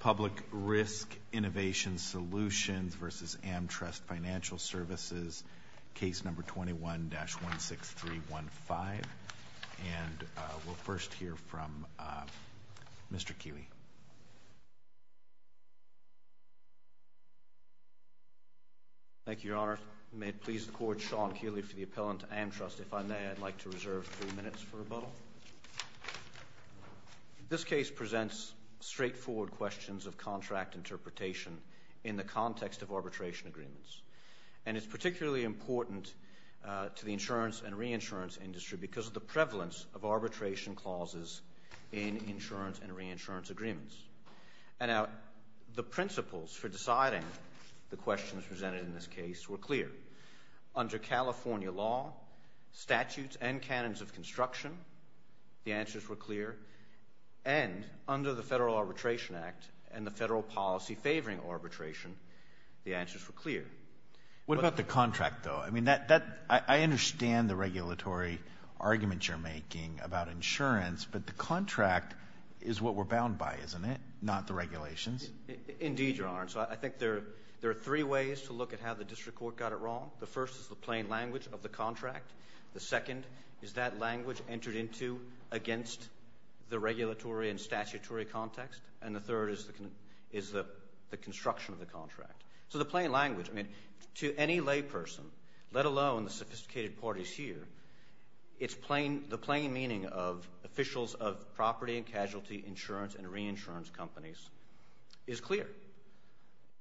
Public Risk Innovation Solutions v. AmTrust Financial Services, Case No. 21-16315. And we'll first hear from Mr. Keeley. Thank you, Your Honor. May it please the Court, Sean Keeley for the appellant to AmTrust. If I may, I'd like to reserve three minutes for rebuttal. This case presents straightforward questions of contract interpretation in the context of arbitration agreements. And it's particularly important to the insurance and reinsurance industry because of the prevalence of arbitration clauses in insurance and reinsurance agreements. And the principles for deciding the questions presented in this case were clear. Under California law, statutes and canons of construction, the answers were clear. And under the Federal Arbitration Act and the federal policy favoring arbitration, the answers were clear. What about the contract, though? I mean, I understand the regulatory arguments you're making about insurance, but the contract is what we're bound by, isn't it, not the regulations? Indeed, Your Honor. So I think there are three ways to look at how the district court got it wrong. The first is the plain language of the contract. The second is that language entered into against the regulatory and statutory context. And the third is the construction of the contract. So the plain language, I mean, to any layperson, let alone the sophisticated parties here, the plain meaning of officials of property and casualty insurance and reinsurance companies is clear.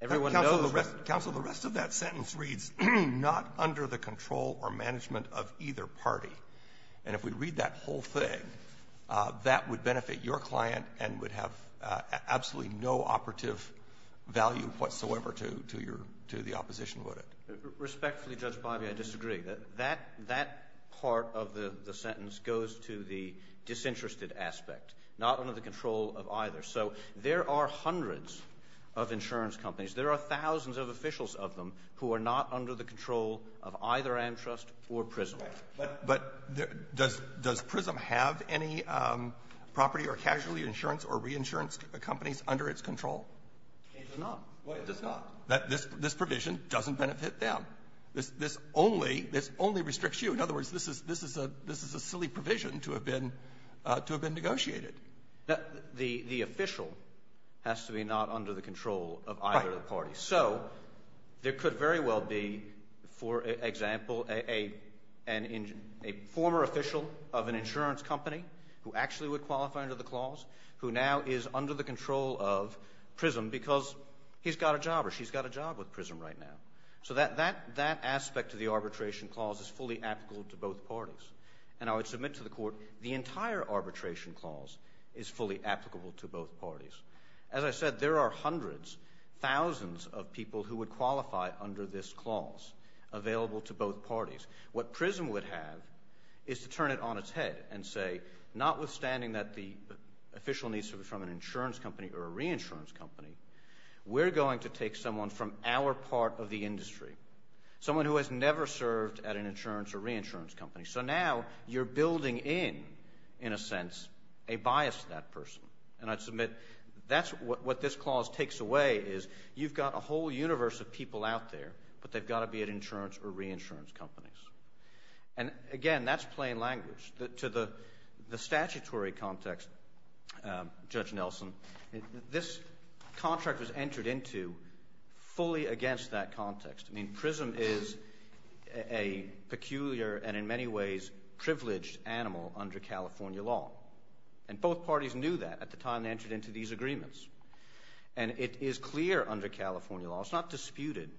Everyone knows that. Counsel, the rest of that sentence reads, not under the control or management of either party. And if we read that whole thing, that would benefit your client and would have absolutely no operative value whatsoever to the opposition, would it? Respectfully, Judge Bobby, I disagree. That part of the sentence goes to the disinterested aspect, not under the control of either. So there are hundreds of insurance companies. There are thousands of officials of them who are not under the control of either Amtrust or PRISM. But does PRISM have any property or casualty insurance or reinsurance companies under its control? It does not. It does not. This provision doesn't benefit them. This only restricts you. In other words, this is a silly provision to have been negotiated. The official has to be not under the control of either party. So there could very well be, for example, a former official of an insurance company who actually would qualify under the clause, who now is under the control of PRISM because he's got a job or she's got a job with PRISM right now. So that aspect of the arbitration clause is fully applicable to both parties. And I would submit to the Court the entire arbitration clause is fully applicable to both parties. As I said, there are hundreds, thousands of people who would qualify under this clause available to both parties. What PRISM would have is to turn it on its head and say, notwithstanding that the official needs to be from an insurance company or a reinsurance company, we're going to take someone from our part of the industry, someone who has never served at an insurance or reinsurance company. So now you're building in, in a sense, a bias to that person. And I'd submit that's what this clause takes away is you've got a whole universe of people out there, but they've got to be at insurance or reinsurance companies. And, again, that's plain language. To the statutory context, Judge Nelson, this contract was entered into fully against that context. I mean, PRISM is a peculiar and in many ways privileged animal under California law. And both parties knew that at the time they entered into these agreements. And it is clear under California law, it's not disputed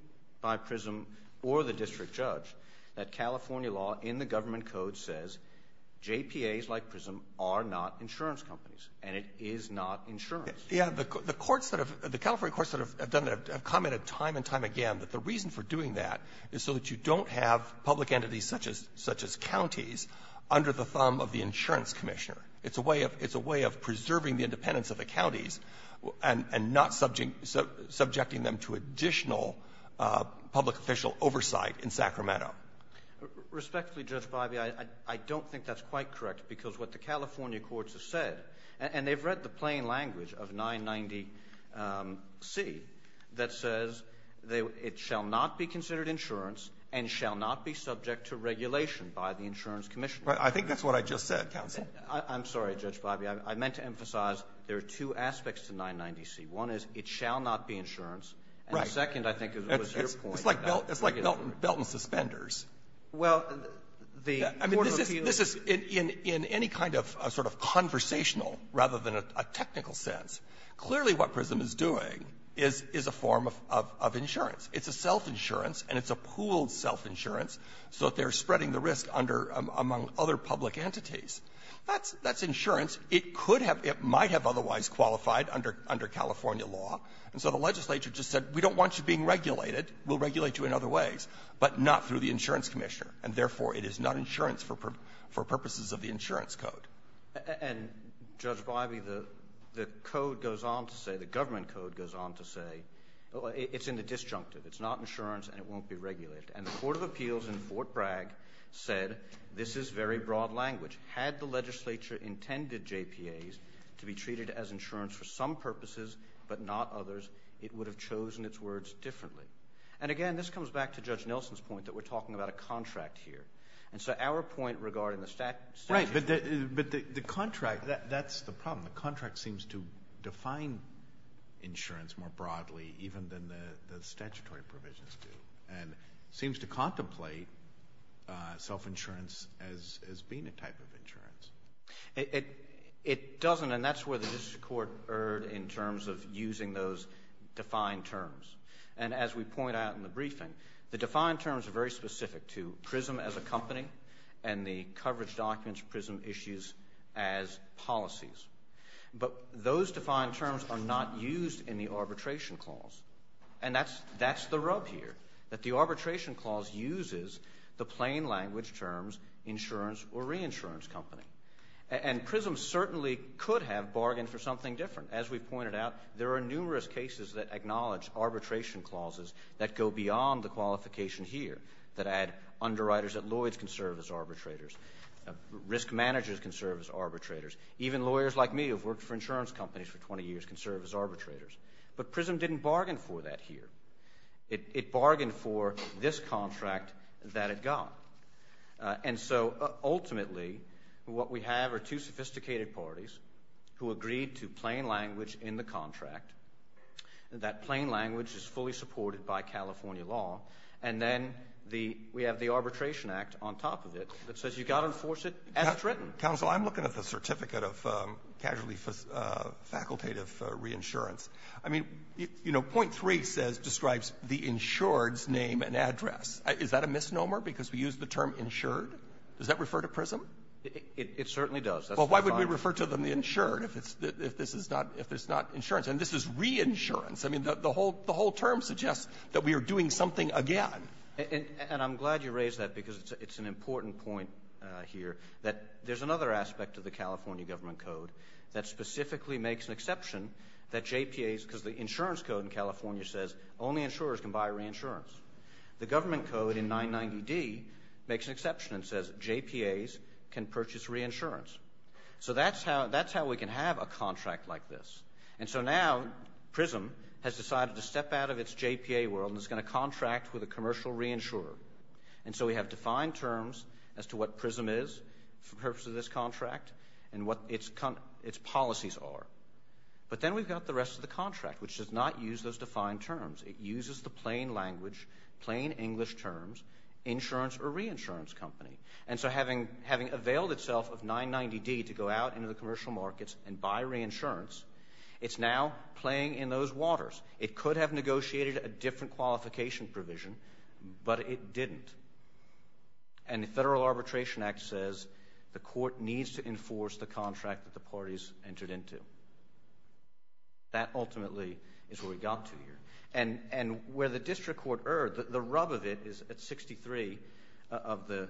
by PRISM or the district judge, that California law in the government code says JPAs like PRISM are not insurance companies, and it is not insurance. Olson. Yeah. The courts that have, the California courts that have done that have commented time and time again that the reason for doing that is so that you don't have public entities such as, such as counties under the thumb of the insurance commissioner. It's a way of, it's a way of preserving the independence of the counties and not subjecting them to additional public official oversight in Sacramento. Respectfully, Judge Bibey, I don't think that's quite correct because what the California courts have said, and they've read the plain language of 990C that says it shall not be considered insurance and shall not be subject to regulation by the insurance commissioner. I think that's what I just said, counsel. I'm sorry, Judge Bibey. I meant to emphasize there are two aspects to 990C. One is it shall not be insurance. Olson. Right. And the second, I think, is what was your point. It's like, it's like belt and suspenders. Well, the Court of Appeals ---- I mean, this is, this is, in any kind of sort of conversational rather than a technical sense, clearly what PRISM is doing is, is a form of, of insurance. It's a self-insurance, and it's a pooled self-insurance so that they're spreading the risk under, among other public entities. That's, that's insurance. It could have, it might have otherwise qualified under, under California law. And so the legislature just said, we don't want you being regulated. We'll regulate you in other ways, but not through the insurance commissioner. And therefore, it is not insurance for purposes of the insurance code. And, Judge Bibey, the, the code goes on to say, the government code goes on to say it's in the disjunctive. It's not insurance and it won't be regulated. And the Court of Appeals in Fort Bragg said this is very broad language. Had the legislature intended JPAs to be treated as insurance for some purposes, but not others, it would have chosen its words differently. And again, this comes back to Judge Nelson's point that we're talking about a contract here. And so our point regarding the stat, statutes. Right, but the, but the, the contract, that, that's the problem. The contract seems to define insurance more broadly even than the, the statutory provisions do. And seems to contemplate self-insurance as, as being a type of insurance. It, it, it doesn't and that's where the district court erred in terms of using those defined terms. And as we point out in the briefing, the defined terms are very specific to PRISM as a company and the coverage documents, PRISM issues as policies. But those defined terms are not used in the arbitration clause. And that's, that's the rub here. That the arbitration clause uses the plain language terms insurance or reinsurance company. And, and PRISM certainly could have bargained for something different. As we've pointed out, there are numerous cases that acknowledge arbitration clauses that go beyond the qualification here. That add underwriters that Lloyds can serve as arbitrators. Risk managers can serve as arbitrators. Even lawyers like me who've worked for insurance companies for 20 years can serve as arbitrators. But PRISM didn't bargain for that here. It, it bargained for this contract that it got. And so ultimately, what we have are two sophisticated parties who agreed to plain language in the contract, that plain language is fully supported by California law. And then the, we have the Arbitration Act on top of it that says you gotta enforce it as it's written. Roberts, counsel, I'm looking at the Certificate of Casually Facultative Reinsurance. I mean, you know, point three says, describes the insured's name and address. Is that a misnomer because we use the term insured? Does that refer to PRISM? It, it certainly does. Well, why would we refer to them the insured if it's, if this is not, if it's not insurance? And this is reinsurance. I mean, the whole, the whole term suggests that we are doing something again. And, and I'm glad you raised that because it's an important point here, that there's another aspect of the California government code that specifically makes an exception that JPAs, because the insurance code in California says only insurers can buy reinsurance. The government code in 990D makes an exception and says JPAs can purchase reinsurance. So that's how, that's how we can have a contract like this. And so now, PRISM has decided to step out of its JPA world and is going to contract with a commercial reinsurer. And so we have defined terms as to what PRISM is for the purpose of this contract and what its, its policies are. But then we've got the rest of the contract, which does not use those defined terms. It uses the plain language, plain English terms, insurance or reinsurance company. And so having, having availed itself of 990D to go out into the commercial markets and buy reinsurance, it's now playing in those waters. It could have negotiated a different qualification provision, but it didn't. And the Federal Arbitration Act says the court needs to enforce the contract that the parties entered into. That ultimately is where we got to here. And, and where the district court erred, the rub of it is at 63 of the,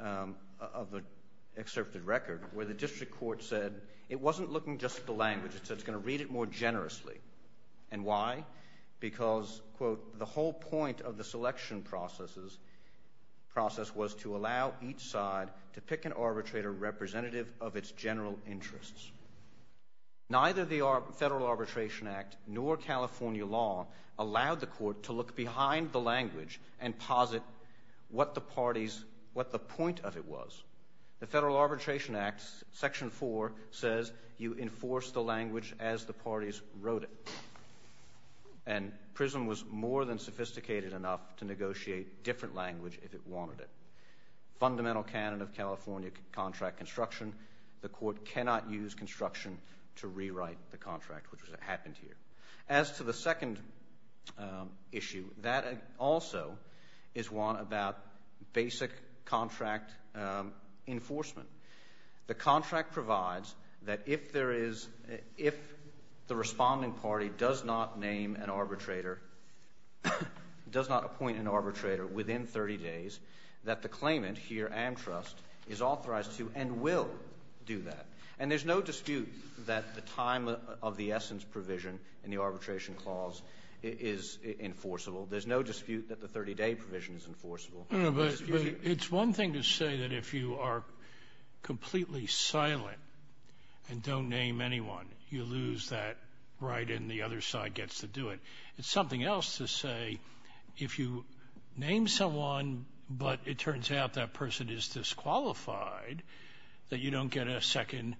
of the excerpted record, where the district court said it wasn't looking just at the Why? Because, quote, the whole point of the selection processes, process was to allow each side to pick an arbitrator representative of its general interests. Neither the Ar, Federal Arbitration Act nor California law allowed the court to look behind the language and posit what the parties, what the point of it was. The Federal Arbitration Act, section four, says you enforce the language as the And PRISM was more than sophisticated enough to negotiate different language if it wanted it. Fundamental canon of California contract construction, the court cannot use construction to rewrite the contract, which happened here. As to the second issue, that also is one about basic contract enforcement. The contract provides that if there is, if the responding party does not name an arbitrator, does not appoint an arbitrator within 30 days, that the claimant here, Amtrust, is authorized to and will do that. And there's no dispute that the time of, of the essence provision in the arbitration clause is, is enforceable. There's no dispute that the 30 day provision is enforceable. No, but it's one thing to say that if you are completely silent and don't name anyone, you lose that right and the other side gets to do it. It's something else to say, if you name someone, but it turns out that person is disqualified, that you don't get a second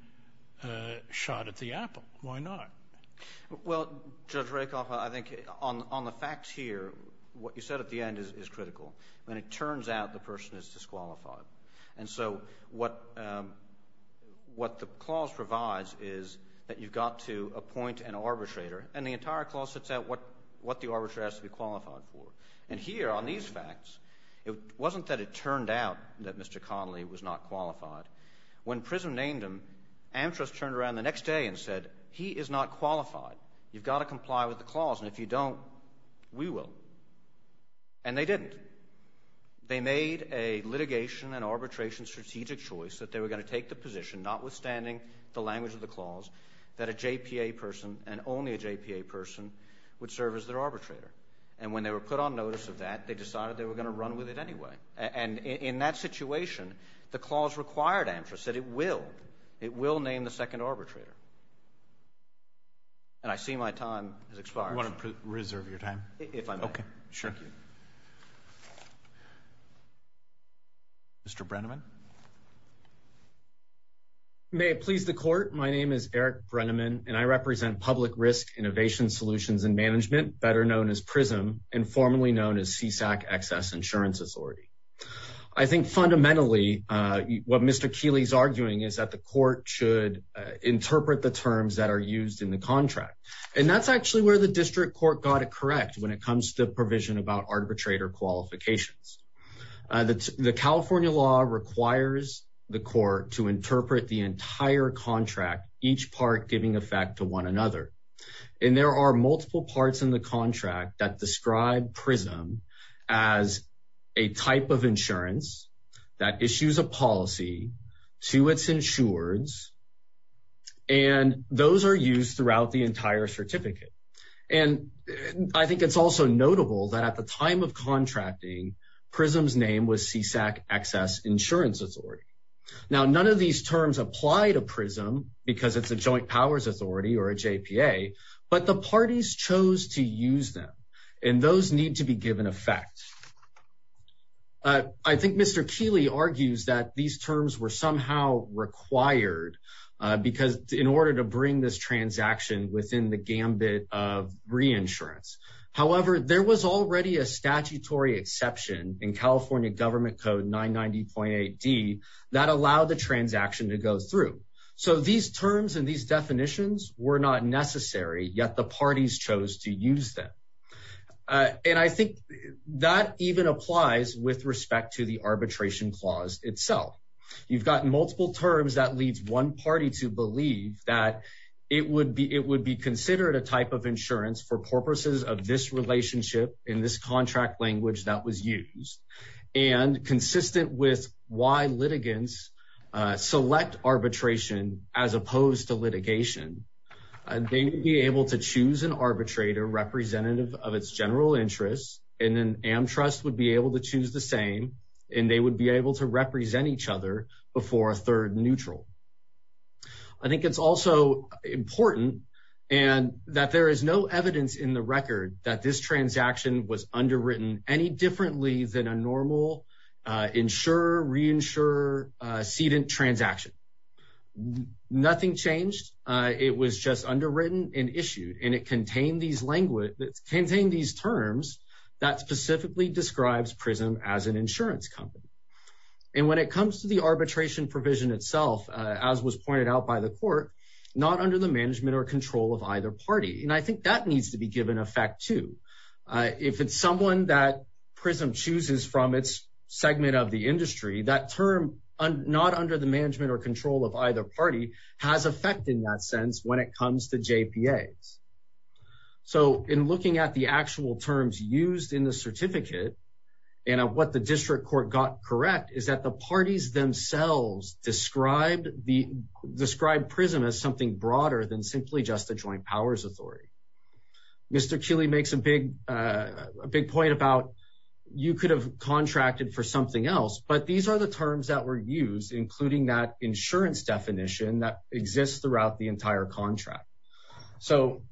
shot at the apple. Why not? Well, Judge Rakoff, I think on, on the facts here, what you said at the end is, is critical. When it turns out the person is disqualified. And so, what, what the clause provides is that you've got to appoint an arbitrator and the entire clause sets out what, what the arbitrator has to be qualified for. And here, on these facts, it wasn't that it turned out that Mr. Connolly was not qualified. When PRISM named him, Amtrust turned around the next day and said, he is not qualified. You've got to comply with the clause and if you don't, we will. And they didn't. They made a litigation and arbitration strategic choice that they were going to take the position, notwithstanding the language of the clause, that a JPA person and only a JPA person would serve as their arbitrator. And when they were put on notice of that, they decided they were going to run with it anyway. And, and in that situation, the clause required Amtrust, said it will, it will name the second arbitrator. And I see my time has expired. You want to preserve your time? If I may. Okay. Sure. Mr. Brenneman. May it please the court. My name is Eric Brenneman and I represent Public Risk Innovation Solutions and Management, better known as PRISM and formerly known as CSAC Excess Insurance Authority. I think fundamentally, what Mr. Keeley is arguing is that the court should interpret the terms that are used in the contract. And that's actually where the district court got it correct. When it comes to provision about arbitrator qualifications, that the California law requires the court to interpret the entire contract, each part giving effect to one another. And there are multiple parts in the contract that describe PRISM as a type of insurance that issues a policy to its insurers. And those are used throughout the entire certificate. And I think it's also notable that at the time of contracting, PRISM's name was CSAC Excess Insurance Authority. Now, none of these terms apply to PRISM because it's a joint powers authority or a JPA, but the parties chose to use them. And those need to be given effect. I think Mr. Keeley argues that these terms were somehow required because in order to bring this transaction within the gambit of reinsurance. However, there was already a statutory exception in California Government Code 990.8d that allowed the transaction to go through. So these terms and these definitions were not necessary, yet the parties chose to use them. And I think that even applies with respect to the arbitration clause itself. You've got multiple terms that leads one party to believe that it would be considered a type of insurance for purposes of this relationship in this contract language that was used. And consistent with why litigants select arbitration as opposed to litigation. They would be able to choose an arbitrator representative of its general interests, and then AmTrust would be able to choose the same. And they would be able to represent each other before a third neutral. I think it's also important and that there is no evidence in the record that this transaction was underwritten any differently than a normal insure, reinsure, sedent transaction. Nothing changed. It was just underwritten and issued, and it contained these language, contained these terms that specifically describes PRISM as an insurance company. And when it comes to the arbitration provision itself, as was pointed out by the court, not under the management or control of either party. And I think that needs to be given effect too. If it's someone that PRISM chooses from its segment of the industry, that term not under the management or control of either party has effect in that sense when it comes to JPAs. So in looking at the actual terms used in the certificate and what the district court got correct is that the parties themselves described PRISM as something broader than simply just a joint powers authority. Mr. Keeley makes a big point about you could have contracted for something else, but these are the terms that were used, including that insurance definition that exists throughout the entire contract. So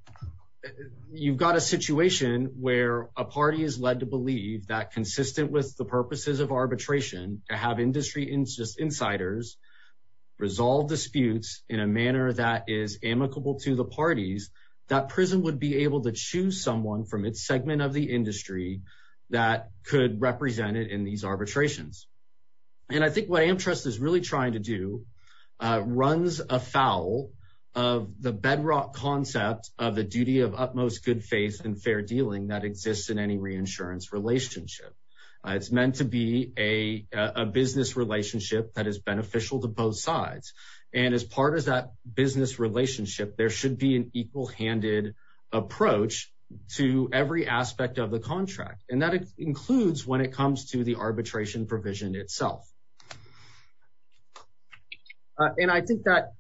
you've got a situation where a party is led to believe that consistent with the purposes of arbitration to have industry insiders resolve disputes in a manner that is amicable to the parties, that PRISM would be able to choose someone from its segment of the industry that could represent it in these arbitrations. And I think what AmTrust is really trying to do runs afoul of the bedrock concept of the duty of utmost good faith and fair dealing that exists in any reinsurance relationship. It's meant to be a business relationship that is beneficial to both sides. And as part of that business relationship, there should be an equal-handed approach to every aspect of the contract. And that includes when it comes to the arbitration provision itself. And I think that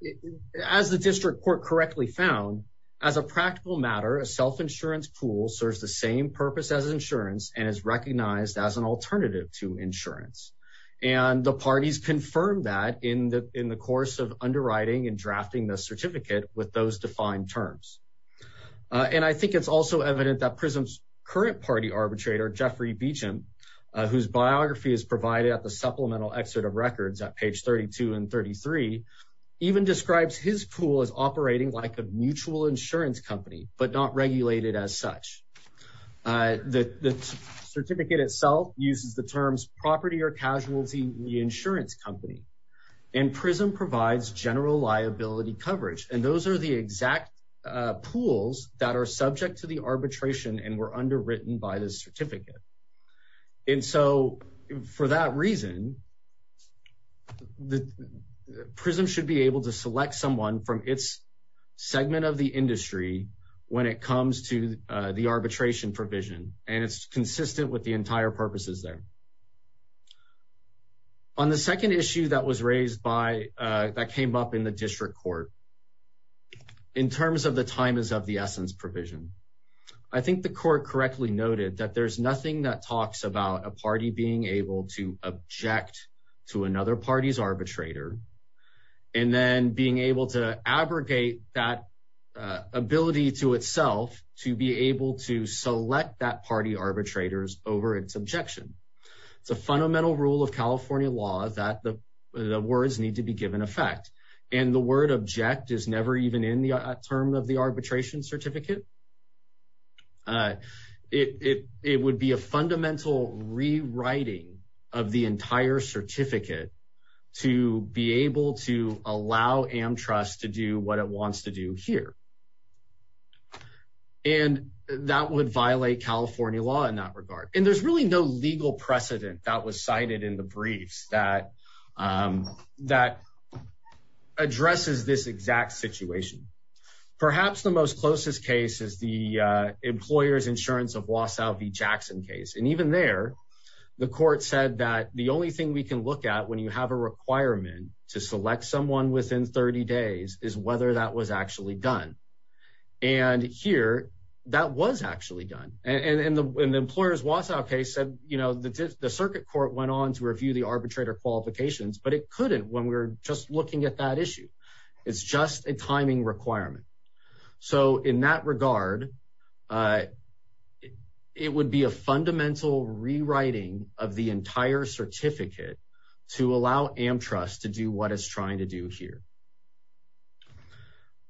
as the district court correctly found, as a practical matter, a self-insurance pool serves the same purpose as insurance and is recognized as an alternative to insurance. And the parties confirm that in the course of underwriting and drafting the certificate with those defined terms. And I think it's also evident that PRISM's current party arbitrator, Jeffrey Beachum, whose biography is provided at the supplemental excerpt of records at page 32 and 33, even describes his pool as operating like a mutual insurance company, but not regulated as such. The certificate itself uses the terms property or casualty reinsurance company, and PRISM provides general liability coverage. And those are the exact pools that are subject to the arbitration and were underwritten by the certificate. And so, for that reason, PRISM should be able to select someone from its segment of the industry when it comes to the arbitration provision. And it's consistent with the entire purposes there. On the second issue that was raised by, that came up in the district court, in terms of the time is of the essence provision, I think the court correctly noted that there's nothing that talks about a party being able to object to another party's arbitrator, and then being able to abrogate that ability to itself to be able to select that party arbitrator's over its objection. It's a fundamental rule of California law that the words need to be given effect. And the word object is never even in the term of the arbitration certificate. It would be a fundamental rewriting of the entire certificate to be able to allow AmTrust to do what it wants to do here. And that would violate California law in that regard. And there's really no legal precedent that was cited in the briefs that addresses this exact situation. Perhaps the most closest case is the employer's insurance of Wasow v. Jackson case. And even there, the court said that the only thing we can look at when you have a requirement to select someone within 30 days is whether that was actually done. And here, that was actually done. And the employer's Wasow case said, you know, the circuit court went on to review the arbitrator qualifications, but it couldn't when we're just looking at that issue, it's just a timing requirement. So in that regard, it would be a fundamental rewriting of the entire certificate to allow AmTrust to do what it's trying to do here.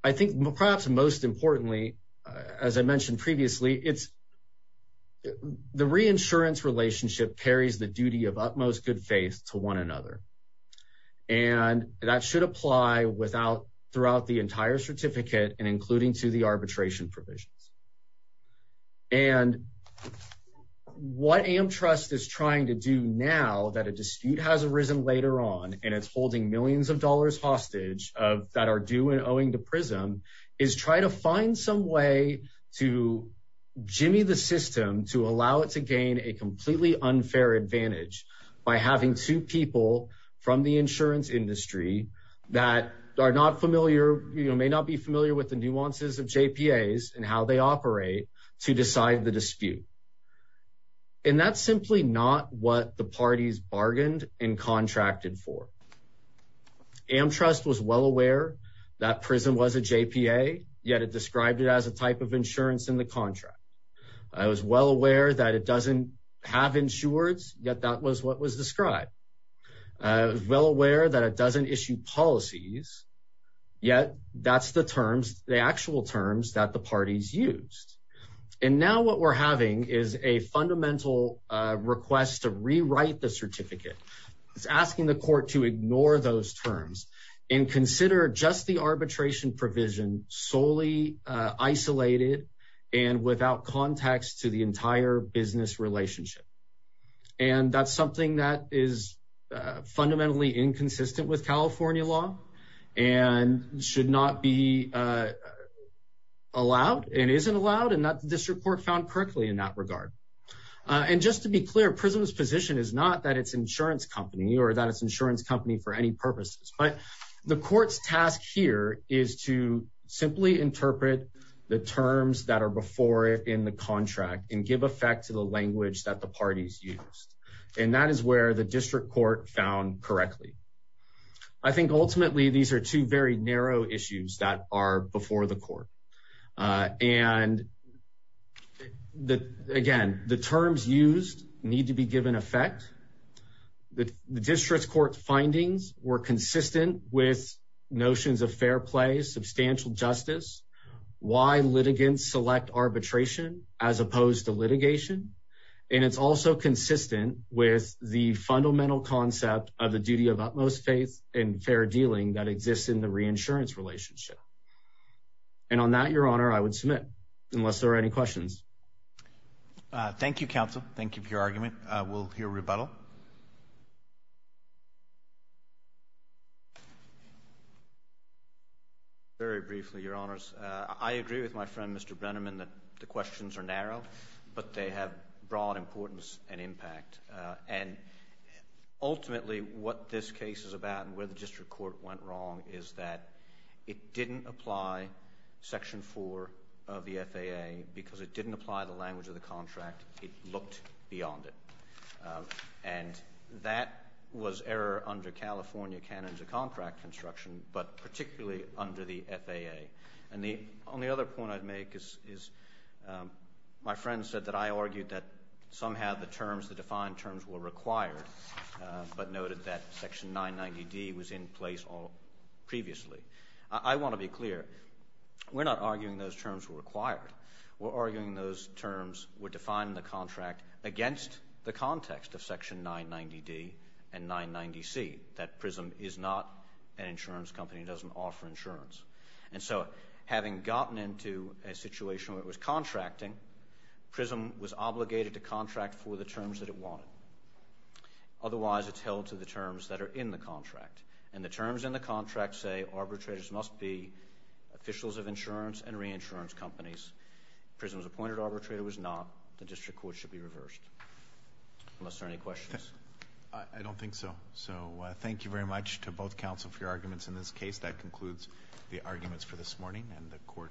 I think perhaps most importantly, as I mentioned previously, it's the reinsurance relationship parries the duty of utmost good faith to one another. And that should apply without throughout the entire certificate and including to the arbitration provisions. And what AmTrust is trying to do now that a dispute has arisen later on and it's holding millions of dollars hostage of that are due and owing to PRISM is try to find some way to Jimmy the system, to allow it to gain a completely unfair advantage by having two people from the insurance industry that are not familiar, you know, may not be familiar with the nuances of JPAs and how they operate to decide the dispute. And that's simply not what the parties bargained and contracted for. AmTrust was well aware that PRISM was a JPA, yet it described it as a type of insurance in the contract. I was well aware that it doesn't have insureds, yet that was what was described, well aware that it doesn't issue policies, yet that's the terms, the actual terms that the parties used. And now what we're having is a fundamental request to rewrite the terms and consider just the arbitration provision solely isolated and without context to the entire business relationship. And that's something that is fundamentally inconsistent with California law and should not be allowed and isn't allowed. And that the district court found correctly in that regard. And just to be clear, PRISM's position is not that it's insurance company or that it's insurance company for any purposes, but the court's task here is to simply interpret the terms that are before it in the contract and give effect to the language that the parties used. And that is where the district court found correctly. I think ultimately these are two very narrow issues that are before the court. And again, the terms used need to be given effect. The district court findings were consistent with notions of fair play, substantial justice, why litigants select arbitration as opposed to litigation. And it's also consistent with the fundamental concept of the duty of utmost faith and fair dealing that exists in the reinsurance relationship. And on that, your honor, I would submit, unless there are any questions. Thank you, counsel. Thank you for your argument. We'll hear rebuttal. Very briefly, your honors. I agree with my friend, Mr. Brenneman, that the questions are narrow, but they have broad importance and impact. And ultimately what this case is about and where the district court went wrong is that it didn't apply section four of the FAA because it didn't apply the language of the contract. It looked beyond it. And that was error under California canons of contract construction, but particularly under the FAA. And the only other point I'd make is my friend said that I argued that somehow the terms, the defined terms were required, but noted that section 990D was in place previously. I want to be clear. We're not arguing those terms were required. We're arguing those terms were defined in the contract against the context of section 990D and 990C, that PRISM is not an insurance company. It doesn't offer insurance. And so having gotten into a situation where it was contracting, PRISM was obligated to contract for the terms that it wanted. Otherwise it's held to the terms that are in the contract. And the terms in the contract say arbitrators must be officials of insurance and reinsurance companies. PRISM's appointed arbitrator was not. The district court should be reversed. Unless there are any questions. I don't think so. So thank you very much to both counsel for your arguments in this case. That concludes the arguments for this morning and the court will be adjourned. Thank you.